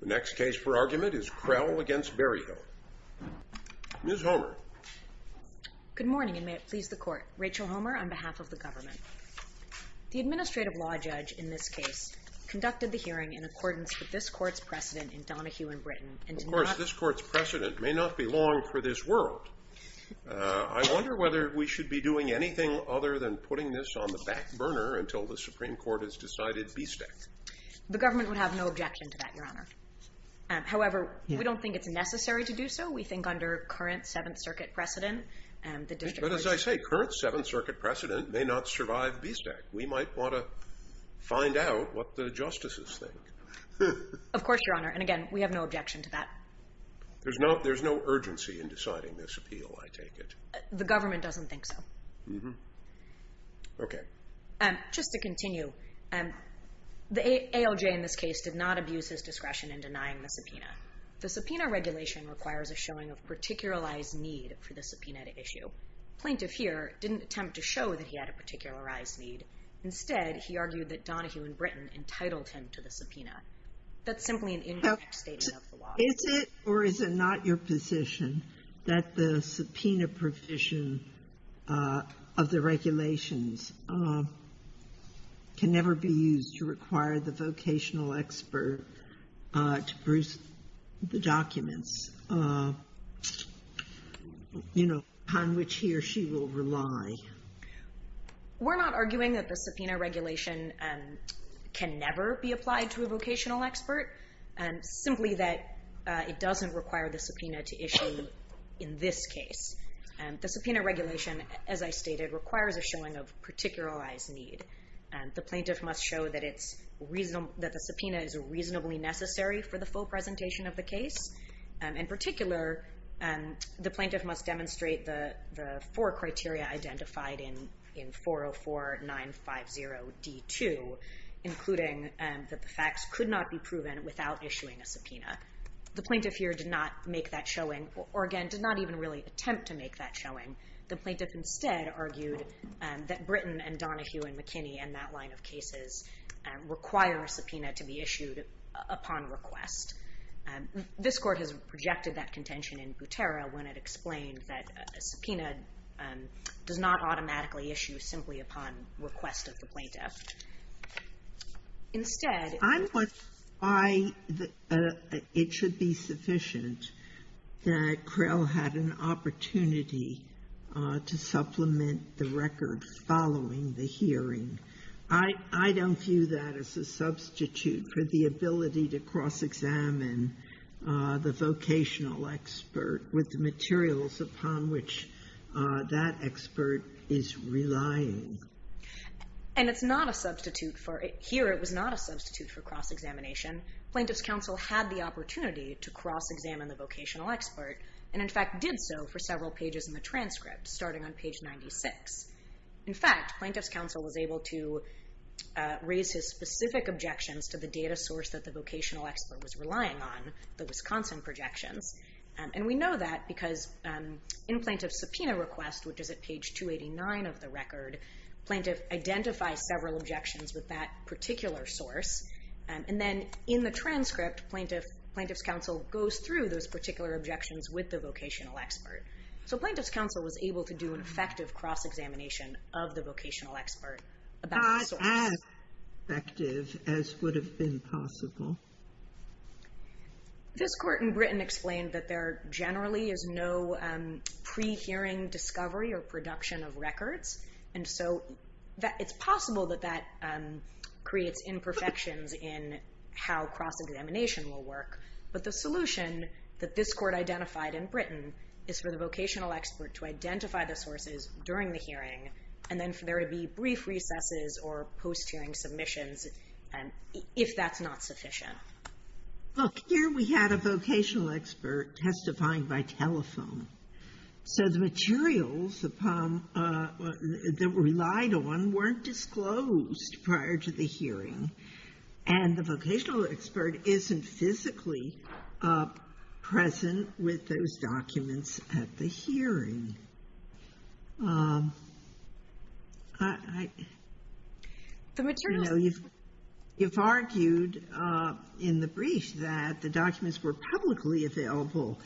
The next case for argument is Krell v. Berryhill. Ms. Homer. Good morning, and may it please the Court. Rachel Homer, on behalf of the Government. The Administrative Law Judge in this case conducted the hearing in accordance with this Court's precedent in Donohue, in Britain, and to not- Of course, this Court's precedent may not be long for this world. I wonder whether we should be doing anything other than putting this on the back burner until the Supreme Court has decided B-Stack. The Government would have no objection to that, Your Honor. However, we don't think it's necessary to do so. We think under current Seventh Circuit precedent, the District- But as I say, current Seventh Circuit precedent may not survive B-Stack. We might want to find out what the Justices think. Of course, Your Honor. And again, we have no objection to that. There's no urgency in deciding this appeal, I take it. The Government doesn't think so. Okay. Thank you. Just to continue, the ALJ in this case did not abuse his discretion in denying the subpoena. The subpoena regulation requires a showing of particularized need for the subpoena to issue. Plaintiff here didn't attempt to show that he had a particularized need. Instead, he argued that Donohue, in Britain, entitled him to the subpoena. That's simply an indirect statement of the law. Is it or is it not your position that the subpoena provision of the regulations can never be used to require the vocational expert to produce the documents, you know, on which he or she will rely? We're not arguing that the subpoena regulation can never be applied to a vocational expert. Simply that it doesn't require the subpoena to issue in this case. The subpoena regulation, as I stated, requires a showing of particularized need. The plaintiff must show that the subpoena is reasonably necessary for the full presentation of the case. In particular, the plaintiff must demonstrate the four criteria identified in 404-950-D2, including that the facts could not be proven without issuing a subpoena. The plaintiff here did not make that showing or, again, did not even really attempt to make that showing. The plaintiff instead argued that Britain and Donohue and McKinney and that line of cases require a subpoena to be issued upon request. This Court has projected that contention in Butera when it explained that a subpoena does not automatically issue simply upon request of the plaintiff. Instead ---- Sotomayor, I'm not sure why it should be sufficient that Crell had an opportunity to supplement the records following the hearing. I don't view that as a substitute for the ability to cross-examine the vocational expert with the materials upon which that expert is relying. And it's not a substitute for ---- Here it was not a substitute for cross-examination. Plaintiff's counsel had the opportunity to cross-examine the vocational expert and, in fact, did so for several pages in the transcript, starting on page 96. In fact, plaintiff's counsel was able to raise his specific objections to the data source that the vocational expert was relying on, the Wisconsin projections. And we know that because in plaintiff's subpoena request, which is at page 289 of the record, plaintiff identifies several objections with that particular source. And then in the transcript, plaintiff's counsel goes through those particular objections with the vocational expert. So plaintiff's counsel was able to do an effective cross-examination of the vocational expert about the source. Not as effective as would have been possible. This court in Britain explained that there generally is no pre-hearing discovery or production of records, and so it's possible that that creates imperfections in how cross-examination will work. But the solution that this court identified in Britain is for the vocational expert to identify the sources during the hearing and then for there to be brief recesses or post-hearing submissions if that's not sufficient. Look, here we had a vocational expert testifying by telephone. So the materials that were relied on weren't disclosed prior to the hearing. And the vocational expert isn't physically present with those documents at the hearing. You've argued in the brief that the documents were publicly available,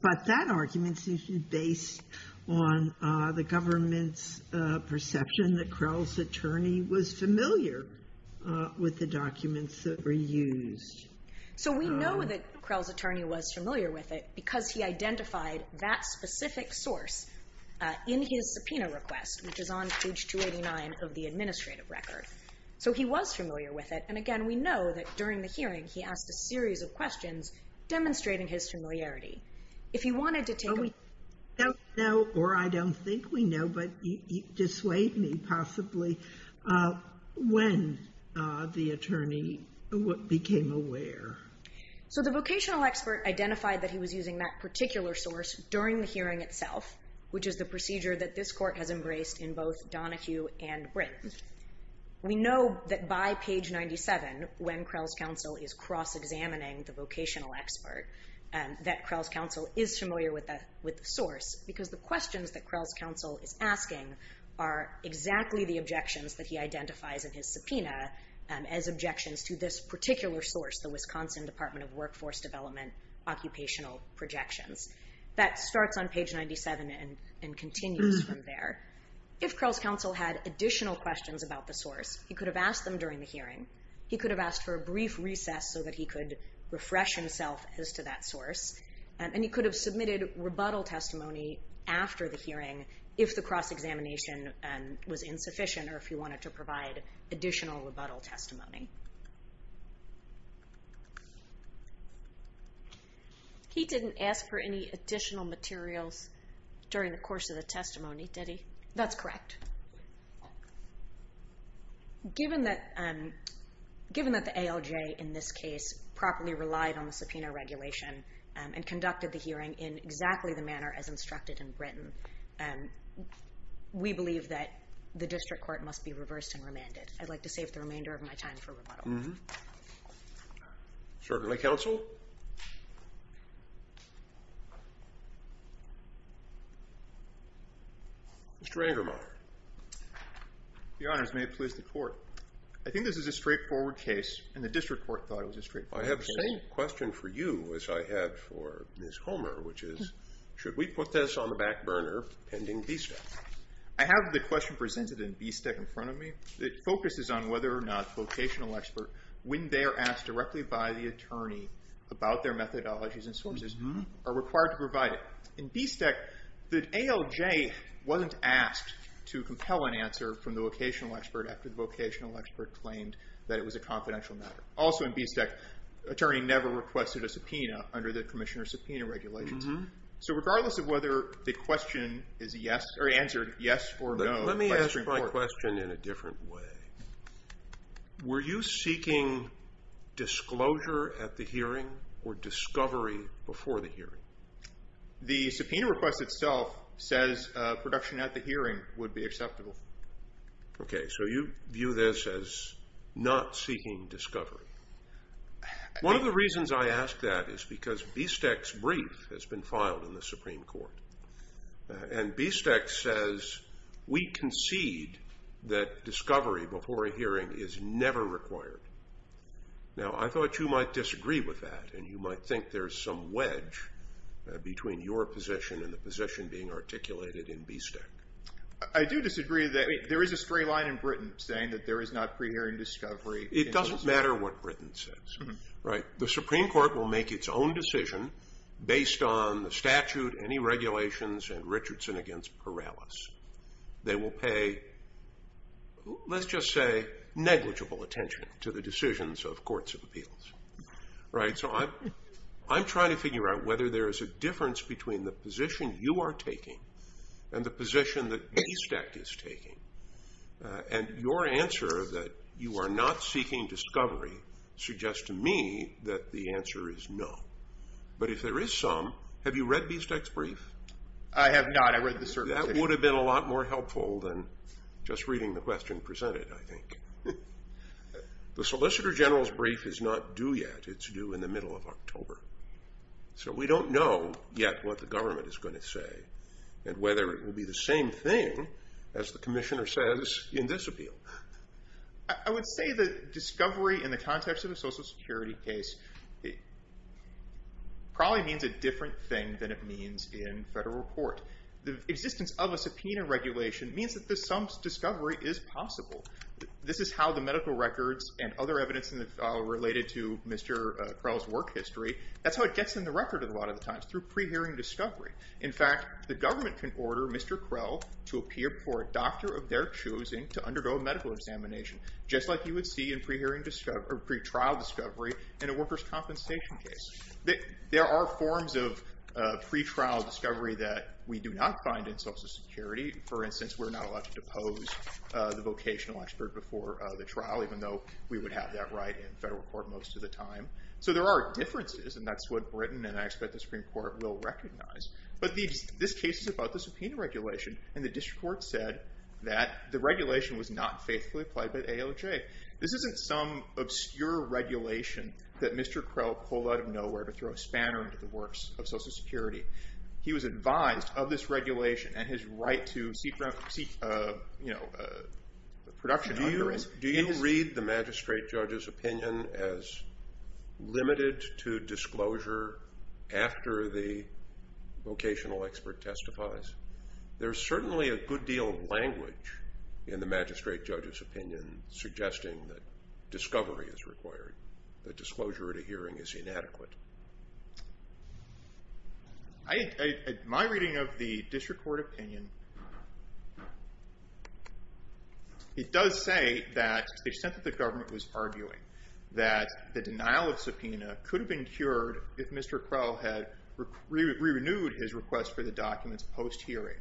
but that argument seems to be based on the government's perception and that Krell's attorney was familiar with the documents that were used. So we know that Krell's attorney was familiar with it because he identified that specific source in his subpoena request, which is on page 289 of the administrative record. So he was familiar with it, and again, we know that during the hearing Oh, we don't know, or I don't think we know, but you dissuade me possibly when the attorney became aware. So the vocational expert identified that he was using that particular source during the hearing itself, which is the procedure that this court has embraced in both Donohue and Britain. We know that by page 97, when Krell's counsel is cross-examining the vocational expert, that Krell's counsel is familiar with the source, because the questions that Krell's counsel is asking are exactly the objections that he identifies in his subpoena as objections to this particular source, the Wisconsin Department of Workforce Development occupational projections. That starts on page 97 and continues from there. If Krell's counsel had additional questions about the source, he could have asked them during the hearing. He could have asked for a brief recess so that he could refresh himself as to that source, and he could have submitted rebuttal testimony after the hearing if the cross-examination was insufficient or if he wanted to provide additional rebuttal testimony. He didn't ask for any additional materials during the course of the testimony, did he? That's correct. Given that the ALJ in this case properly relied on the subpoena regulation and conducted the hearing in exactly the manner as instructed in Britain, we believe that the district court must be reversed and remanded. I'd like to save the remainder of my time for rebuttal. Certainly, counsel. Mr. Angermeyer. Your Honors, may it please the Court. I think this is a straightforward case, and the district court thought it was a straightforward case. I have the same question for you as I have for Ms. Homer, which is should we put this on the back burner pending BSTEC? I have the question presented in BSTEC in front of me. It focuses on whether or not vocational experts, when they are asked directly by the attorney, about their methodologies and sources, are required to provide it. In BSTEC, the ALJ wasn't asked to compel an answer from the vocational expert after the vocational expert claimed that it was a confidential matter. Also in BSTEC, the attorney never requested a subpoena under the Commissioner Subpoena Regulations. So regardless of whether the question is answered yes or no by the district court. Let me ask my question in a different way. Were you seeking disclosure at the hearing or discovery before the hearing? The subpoena request itself says production at the hearing would be acceptable. Okay, so you view this as not seeking discovery. One of the reasons I ask that is because BSTEC's brief has been filed in the Supreme Court, and BSTEC says we concede that discovery before a hearing is never required. Now, I thought you might disagree with that, and you might think there's some wedge between your position and the position being articulated in BSTEC. I do disagree. There is a straight line in Britain saying that there is not pre-hearing discovery. It doesn't matter what Britain says. Right. The Supreme Court will make its own decision based on the statute, any regulations, and Richardson against Perales. They will pay, let's just say, negligible attention to the decisions of courts of appeals. Right? So I'm trying to figure out whether there is a difference between the position you are taking and the position that BSTEC is taking, and your answer that you are not seeking discovery suggests to me that the answer is no, but if there is some, have you read BSTEC's brief? I have not. I read the certificate. That would have been a lot more helpful than just reading the question presented, I think. The Solicitor General's brief is not due yet. It's due in the middle of October, so we don't know yet what the government is going to say and whether it will be the same thing, as the Commissioner says, in this appeal. I would say that discovery in the context of a Social Security case probably means a different thing than it means in federal court. The existence of a subpoena regulation means that some discovery is possible. This is how the medical records and other evidence related to Mr. Perales' work history, that's how it gets in the record a lot of the times, through pre-hearing discovery. In fact, the government can order Mr. Krell to appear for a doctor of their choosing to undergo a medical examination, just like you would see in pre-trial discovery in a workers' compensation case. There are forms of pre-trial discovery that we do not find in Social Security. For instance, we're not allowed to depose the vocational expert before the trial, even though we would have that right in federal court most of the time. So there are differences, and that's what Britain and I expect the Supreme Court will recognize. But this case is about the subpoena regulation, and the district court said that the regulation was not faithfully applied by the AOJ. This isn't some obscure regulation that Mr. Krell pulled out of nowhere to throw a spanner into the works of Social Security. He was advised of this regulation and his right to seek production under it. Do you read the magistrate judge's opinion as limited to disclosure after the vocational expert testifies? There's certainly a good deal of language in the magistrate judge's opinion suggesting that discovery is required, that disclosure at a hearing is inadequate. My reading of the district court opinion, it does say that the extent that the government was arguing that the denial of subpoena could have been cured if Mr. Krell had re-renewed his request for the documents post-hearing.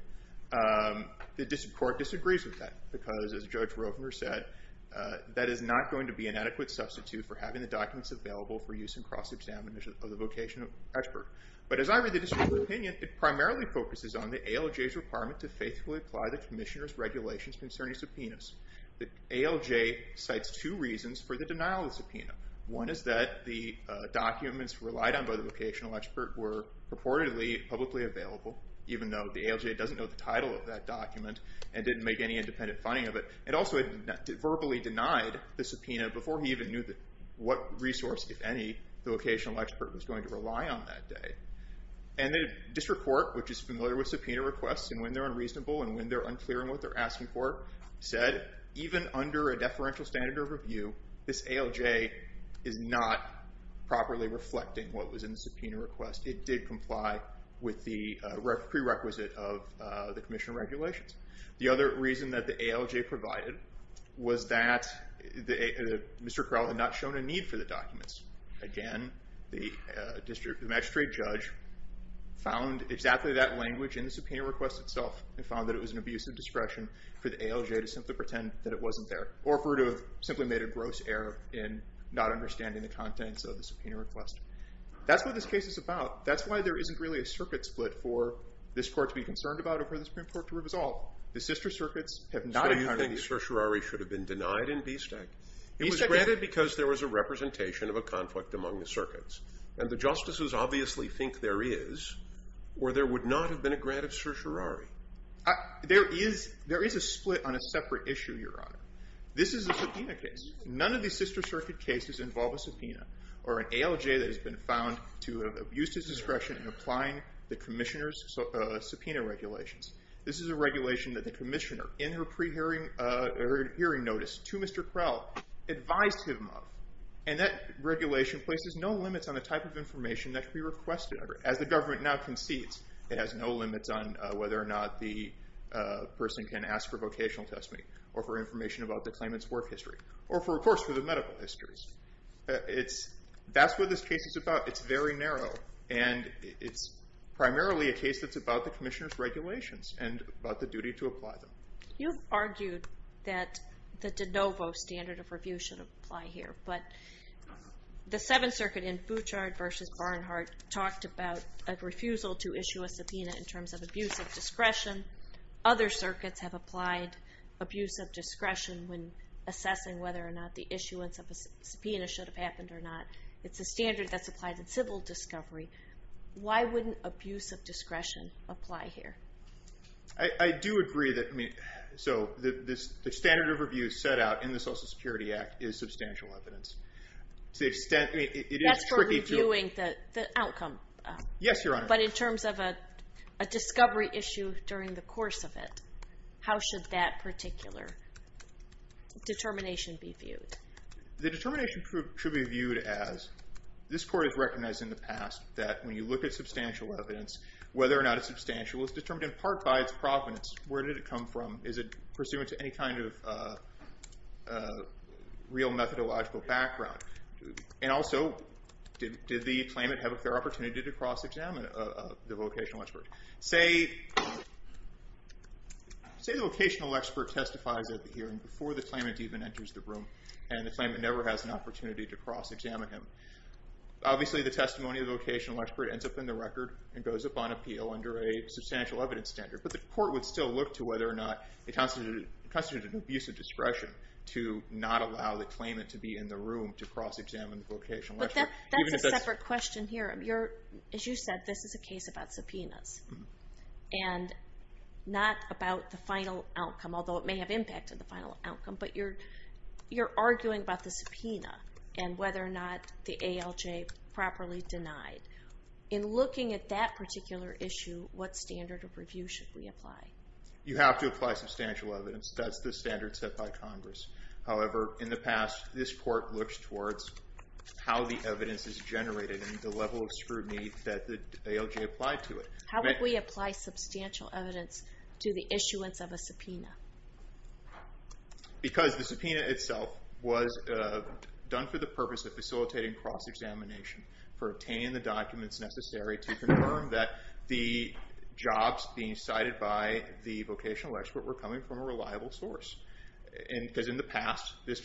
The district court disagrees with that because, as Judge Rovner said, that is not going to be an adequate substitute for having the documents available for use in cross-examination of the vocational expert. But as I read the district court opinion, it primarily focuses on the AOJ's requirement to faithfully apply the commissioner's regulations concerning subpoenas. The AOJ cites two reasons for the denial of the subpoena. One is that the documents relied on by the vocational expert were purportedly publicly available, even though the AOJ doesn't know the title of that document and didn't make any independent finding of it. It also had verbally denied the subpoena before he even knew what resource, if any, the vocational expert was going to rely on that day. And the district court, which is familiar with subpoena requests and when they're unreasonable and when they're unclear on what they're asking for, said even under a deferential standard of review, this AOJ is not properly reflecting what was in the subpoena request. It did comply with the prerequisite of the commissioner regulations. The other reason that the AOJ provided was that Mr. Crowl had not shown a need for the documents. Again, the magistrate judge found exactly that language in the subpoena request itself and found that it was an abuse of discretion for the AOJ to simply pretend that it wasn't there or for it to have simply made a gross error in not understanding the contents of the subpoena request. That's what this case is about. That's why there isn't really a circuit split for this court to be concerned about or for the Supreme Court to resolve. The sister circuits have not encountered these issues. It was granted because there was a representation of a conflict among the circuits. And the justices obviously think there is or there would not have been a grant of certiorari. There is a split on a separate issue, Your Honor. This is a subpoena case. None of these sister circuit cases involve a subpoena or an AOJ that has been found to have abused its discretion in applying the commissioner's subpoena regulations. This is a regulation that the commissioner, in her pre-hearing notice to Mr. Crowl, advised him of. And that regulation places no limits on the type of information that can be requested of her. As the government now concedes, it has no limits on whether or not the person can ask for a vocational testimony or for information about the claimant's work history. Or, of course, for the medical histories. That's what this case is about. It's very narrow. And it's primarily a case that's about the commissioner's regulations and about the duty to apply them. You've argued that the de novo standard of review should apply here. But the Seventh Circuit in Fouchard v. Barnhart talked about a refusal to issue a subpoena in terms of abuse of discretion. Other circuits have applied abuse of discretion when assessing whether or not the issuance of a subpoena should have happened or not. It's a standard that's applied in civil discovery. Why wouldn't abuse of discretion apply here? I do agree that the standard of review set out in the Social Security Act is substantial evidence. That's for reviewing the outcome. But in terms of a discovery issue during the course of it, how should that particular determination be viewed? The determination should be viewed as, this court has recognized in the past that when you look at substantial evidence, whether or not it's substantial is determined in part by its provenance. Where did it come from? Is it pursuant to any kind of real methodological background? And also, did the claimant have a fair opportunity to cross-examine the vocational expert? Say the vocational expert testifies at the hearing before the claimant even enters the room, and the claimant never has an opportunity to cross-examine him. Obviously, the testimony of the vocational expert ends up in the record and goes up on appeal under a substantial evidence standard. But the court would still look to whether or not it constitutes an abuse of discretion to not allow the claimant to be in the room to cross-examine the vocational expert. But that's a separate question here. As you said, this is a case about subpoenas. And not about the final outcome, but you're arguing about the subpoena and whether or not the ALJ properly denied. In looking at that particular issue, what standard of review should we apply? You have to apply substantial evidence. That's the standard set by Congress. However, in the past, this court looks towards how the evidence is generated and the level of scrutiny that the ALJ applied to it. How would we apply substantial evidence to the issuance of a subpoena? Because the subpoena itself was done for the purpose of facilitating cross-examination for obtaining the documents necessary to confirm that the jobs being cited by the vocational expert were coming from a reliable source. Because in the past, this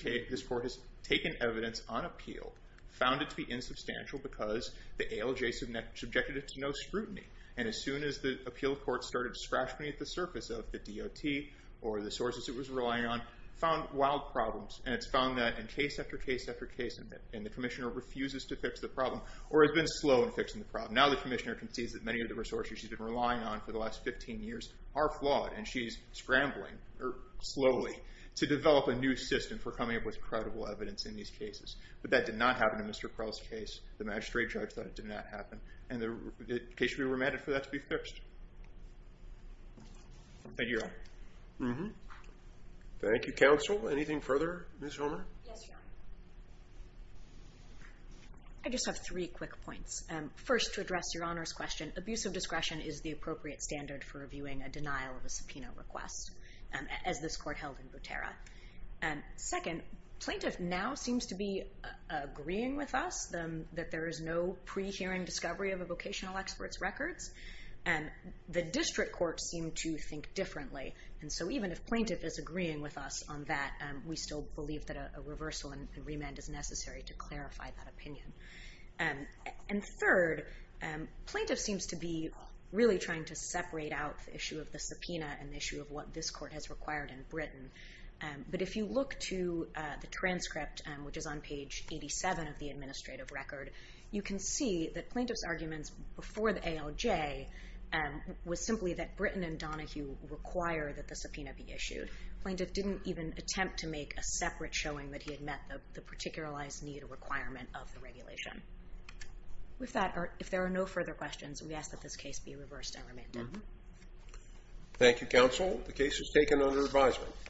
court has taken evidence on appeal, found it to be insubstantial because the ALJ subjected it to no scrutiny. And as soon as the appeal court started scratching at the surface of the DOT or the sources it was relying on, found wild problems. And it's found that in case after case after case, and the Commissioner refuses to fix the problem, or has been slow in fixing the problem. Now the Commissioner concedes that many of the resources she's been relying on for the last 15 years are flawed. And she's scrambling, or slowly, to develop a new system for coming up with credible evidence in these cases. But that did not happen in Mr. Prell's case. The magistrate judge thought it did not happen. And the case should be remanded for that to be reviewed. Thank you, Your Honor. Thank you, Counsel. Anything further, Ms. Homer? Yes, Your Honor. I just have three quick points. First, to address Your Honor's question. Abusive discretion is the appropriate standard for reviewing a denial of a subpoena request, as this court held in Butera. Second, plaintiff now seems to be agreeing with us that there is no pre-hearing discovery of a vocational expert's records. The district courts seem to think differently. And so even if plaintiff is agreeing with us on that, we still believe that a reversal and remand is necessary to clarify that opinion. And third, plaintiff seems to be really trying to separate out the issue of the subpoena and the issue of what this court has required in Britain. But if you look to the transcript, which is on page 87 of the administrative record, you can see that plaintiff's arguments before the ALJ was simply that Britain and Donahue require that the subpoena be issued. Plaintiff didn't even attempt to make a separate showing that he had met the particularized need or requirement of the regulation. If there are no further questions, we ask that this case be reversed and remanded. Thank you, Counsel. The case is taken under advisement.